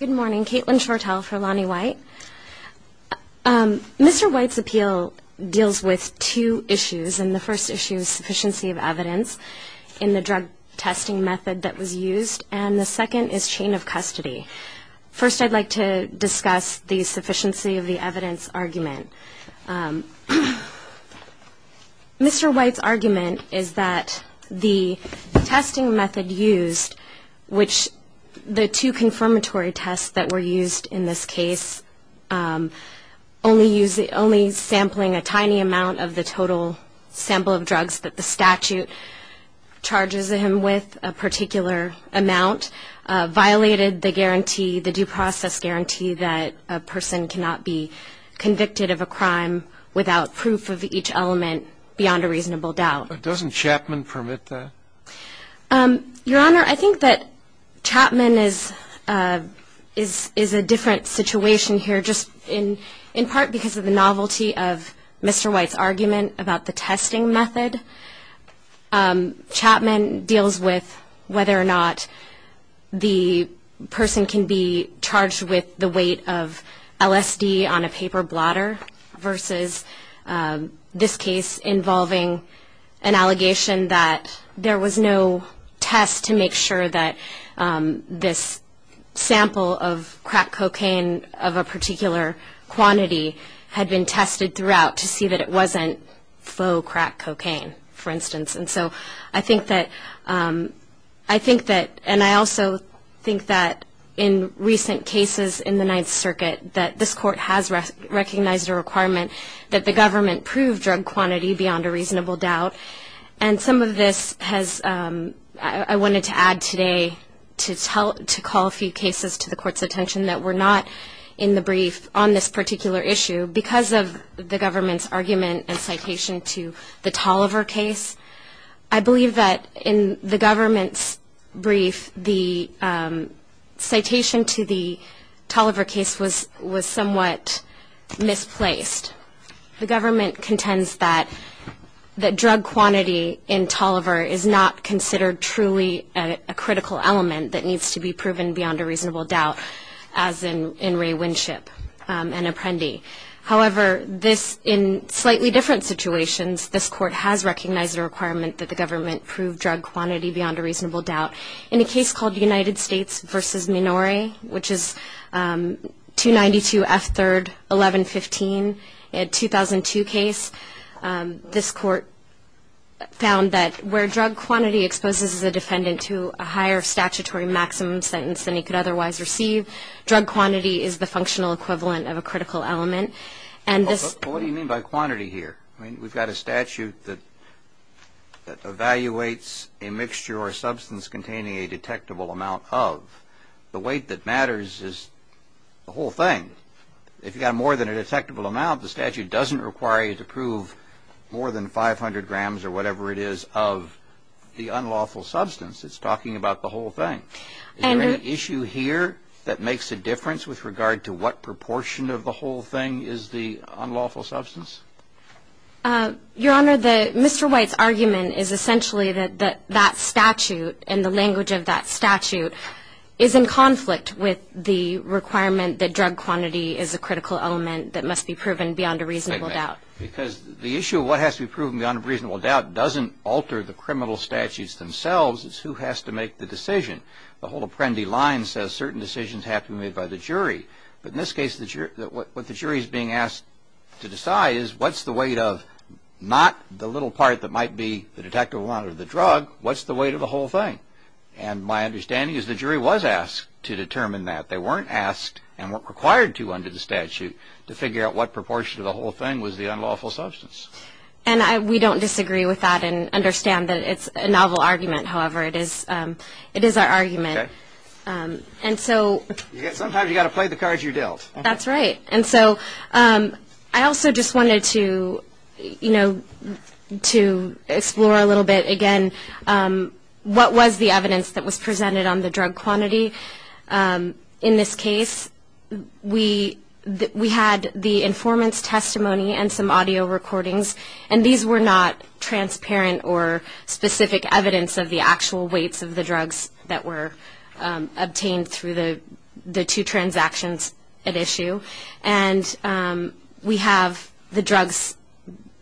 Good morning. Caitlin Shortell for Lonnie White. Mr. White's appeal deals with two issues, and the first issue is sufficiency of evidence in the drug testing method that was used, and the second is chain of custody. First, I'd like to discuss the sufficiency of the evidence argument. Mr. White's argument is that the testing method used, which the two confirmatory tests that were used in this case, only sampling a tiny amount of the total sample of drugs that the statute charges him with a particular amount, violated the guarantee, the due process guarantee that a person cannot be convicted of a crime. Without proof of each element beyond a reasonable doubt. Doesn't Chapman permit that? Your Honor, I think that Chapman is a different situation here just in part because of the novelty of Mr. White's argument about the testing method. Chapman deals with whether or not the person can be charged with the weight of LSD on a paper blotter versus this case involving an allegation that there was no test to make sure that this sample of crack cocaine of a particular quantity had been tested throughout to see that it wasn't faux crack cocaine. And so I think that, and I also think that in recent cases in the Ninth Circuit that this court has recognized a requirement that the government prove drug quantity beyond a reasonable doubt. And some of this has, I wanted to add today to call a few cases to the court's attention that were not in the brief on this particular issue because of the government's argument and citation to the Toliver case. I believe that in the government's brief, the citation to the Toliver case was somewhat misplaced. The government contends that drug quantity in Toliver is not considered truly a critical element that needs to be proven beyond a reasonable doubt as in Ray Winship and Apprendi. However, in slightly different situations, this court has recognized a requirement that the government prove drug quantity beyond a reasonable doubt. In a case called United States versus Minori, which is 292 F3rd 1115, a 2002 case, this court found that where drug quantity exposes a defendant to a higher statutory maximum sentence than he could otherwise receive, drug quantity is the functional equivalent of a critical element. What do you mean by quantity here? I mean, we've got a statute that evaluates a mixture or substance containing a detectable amount of. The weight that matters is the whole thing. If you've got more than a detectable amount, the statute doesn't require you to prove more than 500 grams or whatever it is of the unlawful substance. It's talking about the whole thing. Is there any issue here that makes a difference with regard to what proportion of the whole thing is the unlawful substance? Your Honor, Mr. White's argument is essentially that that statute and the language of that statute is in conflict with the requirement that drug quantity is a critical element that must be proven beyond a reasonable doubt. Because the issue of what has to be proven beyond a reasonable doubt doesn't alter the criminal statutes themselves. It's who has to make the decision. The whole Apprendi line says certain decisions have to be made by the jury. But in this case, what the jury is being asked to decide is what's the weight of not the little part that might be the detectable amount of the drug, what's the weight of the whole thing? And my understanding is the jury was asked to determine that. They weren't asked and weren't required to under the statute to figure out what proportion of the whole thing was the unlawful substance. And we don't disagree with that and understand that it's a novel argument. However, it is our argument. Sometimes you've got to play the cards you're dealt. That's right. And so I also just wanted to, you know, to explore a little bit again what was the evidence that was presented on the drug quantity. In this case, we had the informant's testimony and some audio recordings. And these were not transparent or specific evidence of the actual weights of the drugs that were obtained through the two transactions at issue. And we have the drugs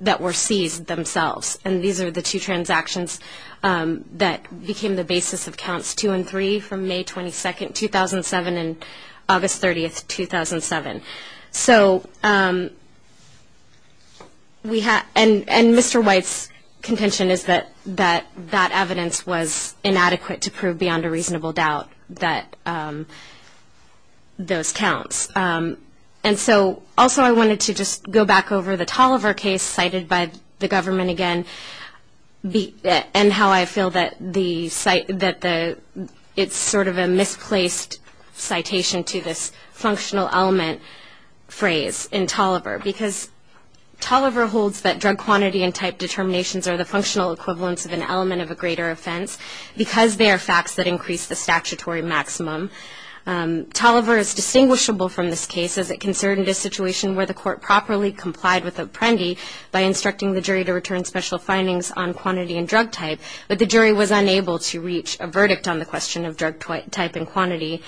that were seized themselves. And these are the two transactions that became the basis of Counts 2 and 3 from May 22, 2007, and August 30, 2007. And Mr. White's contention is that that evidence was inadequate to prove beyond a reasonable doubt that those counts. And so also I wanted to just go back over the Tolliver case cited by the government again and how I feel that it's sort of a misplaced citation to this functional element phrase in Tolliver. Because Tolliver holds that drug quantity and type determinations are the functional equivalents of an element of a greater offense because they are facts that increase the statutory maximum. Tolliver is distinguishable from this case as it concerned a situation where the court properly complied with a prendy by instructing the jury to return special findings on quantity and drug type, but the jury was unable to reach a verdict on the question of drug type and quantity.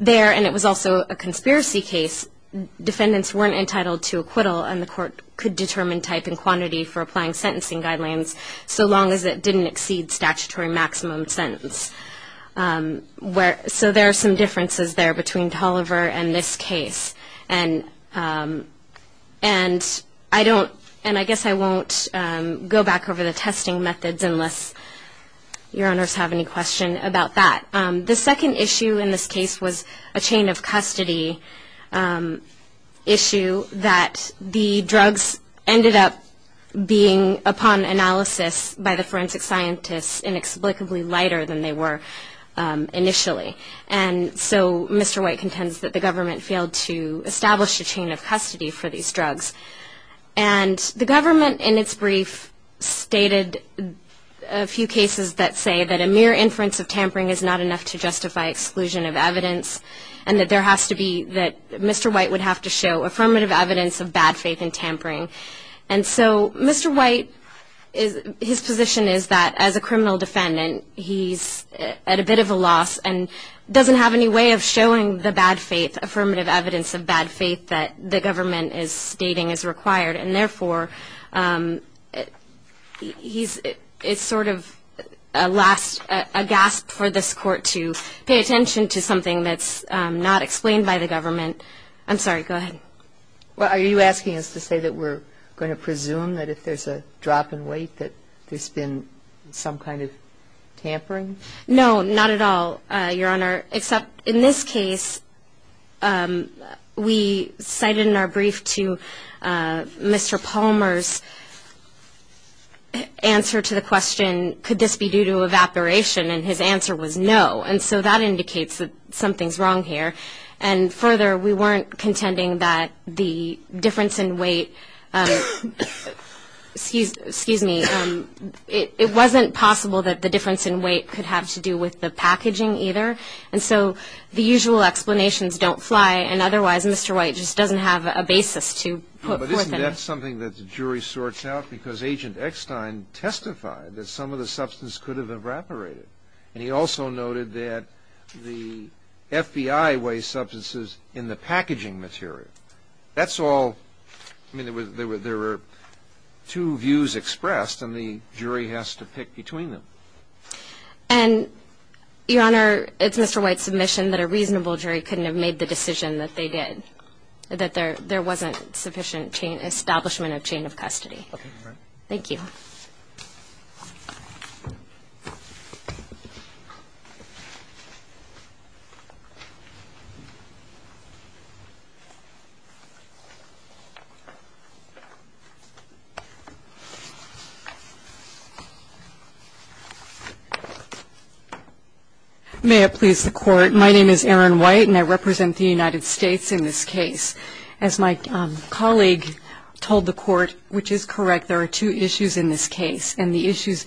There, and it was also a conspiracy case, defendants weren't entitled to acquittal and the court could determine type and quantity for applying sentencing guidelines so long as it didn't exceed statutory maximum sentence. So there are some differences there between Tolliver and this case. And I don't, and I guess I won't go back over the testing methods unless your honors have any question about that. The second issue in this case was a chain of custody issue that the drugs ended up being, upon analysis by the forensic scientists, inexplicably lighter than they were initially. And so Mr. White contends that the government failed to establish a chain of custody for these drugs. And the government in its brief stated a few cases that say that a mere inference of tampering is not enough to justify exclusion of evidence and that there has to be, that Mr. White would have to show affirmative evidence of bad faith in tampering. And so Mr. White, his position is that as a criminal defendant he's at a bit of a loss and doesn't have any way of showing the bad faith, affirmative evidence of bad faith that the government is stating is required. And therefore, he's, it's sort of a last, a gasp for this court to pay attention to something that's not explained by the government. I'm sorry, go ahead. Well, are you asking us to say that we're going to presume that if there's a drop in weight that there's been some kind of tampering? No, not at all, Your Honor, except in this case we cited in our brief to Mr. Palmer's answer to the question, could this be due to evaporation? And his answer was no. And so that indicates that something's wrong here. And further, we weren't contending that the difference in weight, excuse me, it wasn't possible that the difference in weight could have to do with the packaging either. And so the usual explanations don't fly, and otherwise Mr. White just doesn't have a basis to put forth in this. But isn't that something that the jury sorts out? Because Agent Eckstein testified that some of the substance could have evaporated. And he also noted that the FBI wastes substances in the packaging material. That's all. I mean, there were two views expressed, and the jury has to pick between them. And, Your Honor, it's Mr. White's submission that a reasonable jury couldn't have made the decision that they did, that there wasn't sufficient establishment of chain of custody. Okay. Thank you. Ms. White. May it please the Court. My name is Erin White, and I represent the United States in this case. As my colleague told the Court, which is correct, there are two issues in this case, and the issues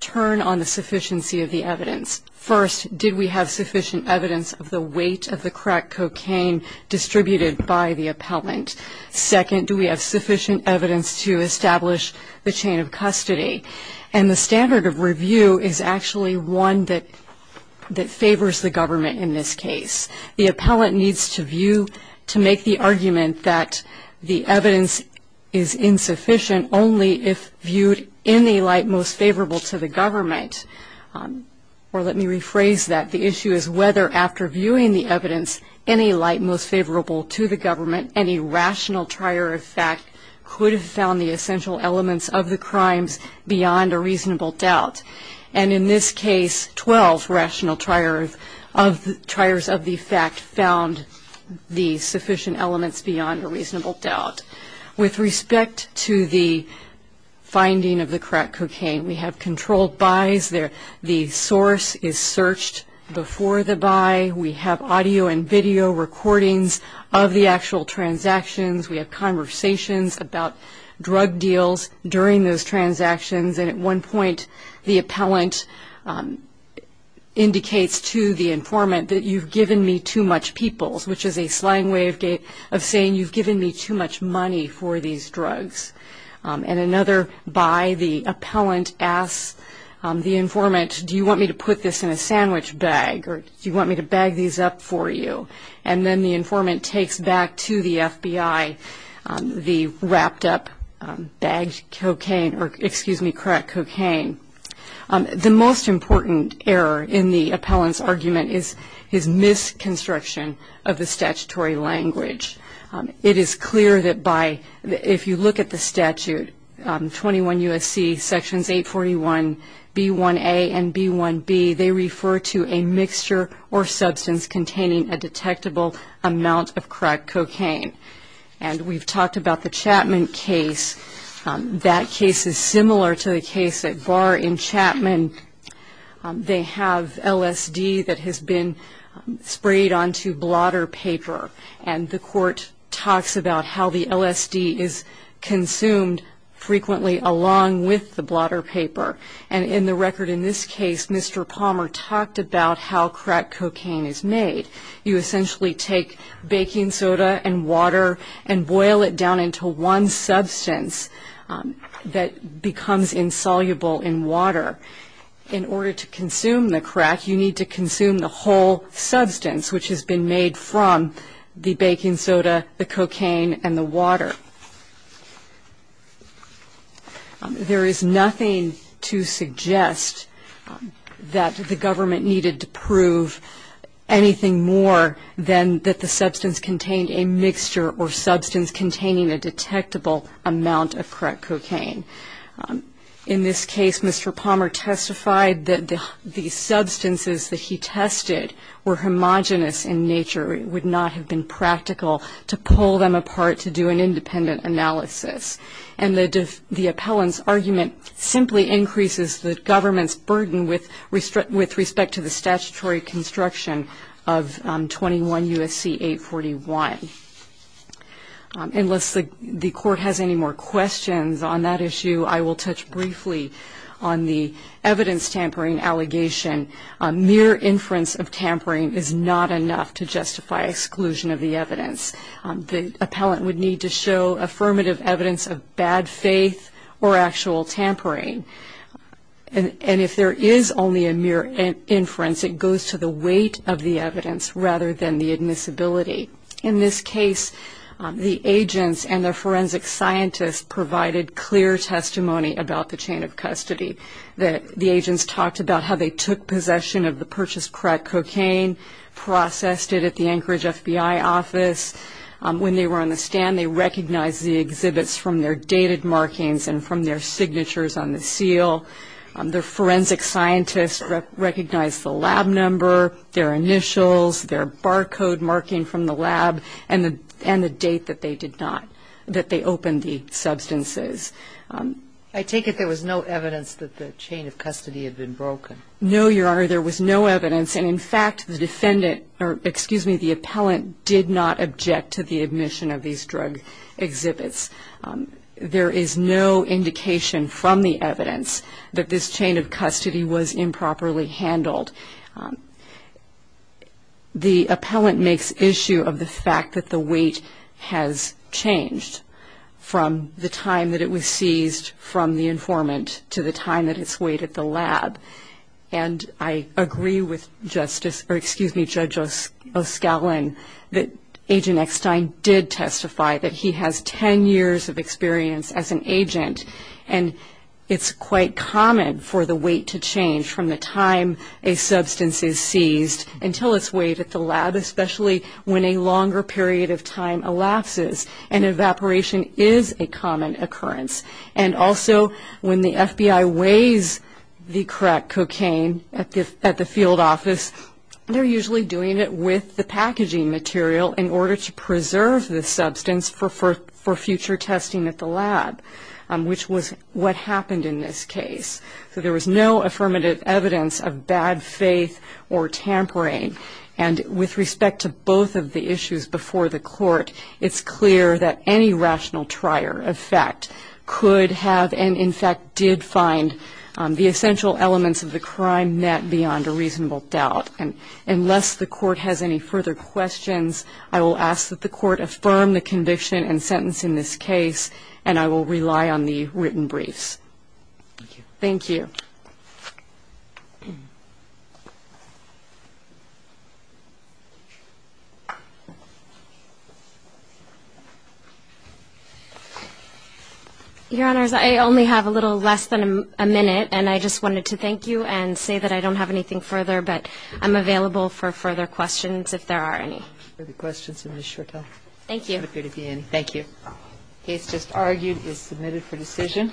turn on the sufficiency of the evidence. First, did we have sufficient evidence of the weight of the crack cocaine distributed by the appellant? Second, do we have sufficient evidence to establish the chain of custody? And the standard of review is actually one that favors the government in this case. The appellant needs to view, to make the argument that the evidence is insufficient, only if viewed in the light most favorable to the government. Or let me rephrase that. The issue is whether, after viewing the evidence in a light most favorable to the government, any rational trier of fact could have found the essential elements of the crimes beyond a reasonable doubt. And in this case, 12 rational triers of the fact found the sufficient elements beyond a reasonable doubt. With respect to the finding of the crack cocaine, we have controlled buys. The source is searched before the buy. We have audio and video recordings of the actual transactions. We have conversations about drug deals during those transactions. And at one point, the appellant indicates to the informant that you've given me too much peoples, which is a slang way of saying you've given me too much money for these drugs. And another buy, the appellant asks the informant, do you want me to put this in a sandwich bag, or do you want me to bag these up for you? And then the informant takes back to the FBI the wrapped up bagged cocaine, or, excuse me, crack cocaine. The most important error in the appellant's argument is his misconstruction of the statutory language. It is clear that if you look at the statute, 21 U.S.C. Sections 841, B1a and B1b, they refer to a mixture or substance containing a detectable amount of crack cocaine. And we've talked about the Chapman case. That case is similar to the case at Barr in Chapman. They have LSD that has been sprayed onto blotter paper, and the court talks about how the LSD is consumed frequently along with the blotter paper. And in the record in this case, Mr. Palmer talked about how crack cocaine is made. You essentially take baking soda and water and boil it down into one substance that becomes insoluble in water. In order to consume the crack, you need to consume the whole substance, which has been made from the baking soda, the cocaine, and the water. There is nothing to suggest that the government needed to prove anything more than that the substance contained a mixture or substance containing a detectable amount of crack cocaine. In this case, Mr. Palmer testified that the substances that he tested were homogenous in nature. It would not have been practical to pull them apart to do an independent analysis. And the appellant's argument simply increases the government's burden with respect to the statutory construction of 21 U.S.C. 841. Unless the court has any more questions on that issue, I will touch briefly on the evidence tampering allegation. Mere inference of tampering is not enough to justify exclusion of the evidence. The appellant would need to show affirmative evidence of bad faith or actual tampering. And if there is only a mere inference, it goes to the weight of the evidence rather than the admissibility. In this case, the agents and their forensic scientists provided clear testimony about the chain of custody. The agents talked about how they took possession of the purchased crack cocaine, processed it at the Anchorage FBI office. When they were on the stand, they recognized the exhibits from their dated markings and from their signatures on the seal. Their forensic scientists recognized the lab number, their initials, their barcode marking from the lab, and the date that they did not, that they opened the substances. I take it there was no evidence that the chain of custody had been broken. No, Your Honor. There was no evidence. And, in fact, the defendant or, excuse me, the appellant did not object to the admission of these drug exhibits. There is no indication from the evidence that this chain of custody was improperly handled. The appellant makes issue of the fact that the weight has changed from the time that it was seized from the informant to the time that it's weighed at the lab. And I agree with Justice or, excuse me, Judge O'Scallion, that Agent Eckstein did testify that he has 10 years of experience as an agent. And it's quite common for the weight to change from the time a substance is seized until it's weighed at the lab, especially when a longer period of time elapses. And evaporation is a common occurrence. And, also, when the FBI weighs the crack cocaine at the field office, they're usually doing it with the packaging material in order to preserve the substance for future testing at the lab. Which was what happened in this case. So there was no affirmative evidence of bad faith or tampering. And with respect to both of the issues before the court, it's clear that any rational trier, in fact, could have and, in fact, did find the essential elements of the crime met beyond a reasonable doubt. And unless the court has any further questions, I will ask that the court affirm the conviction and sentence in this case, and I will rely on the written briefs. Thank you. Your Honors, I only have a little less than a minute, and I just wanted to thank you and say that I don't have anything further, but I'm available for further questions if there are any. Further questions in this short time? Thank you. Thank you. The case just argued is submitted for decision.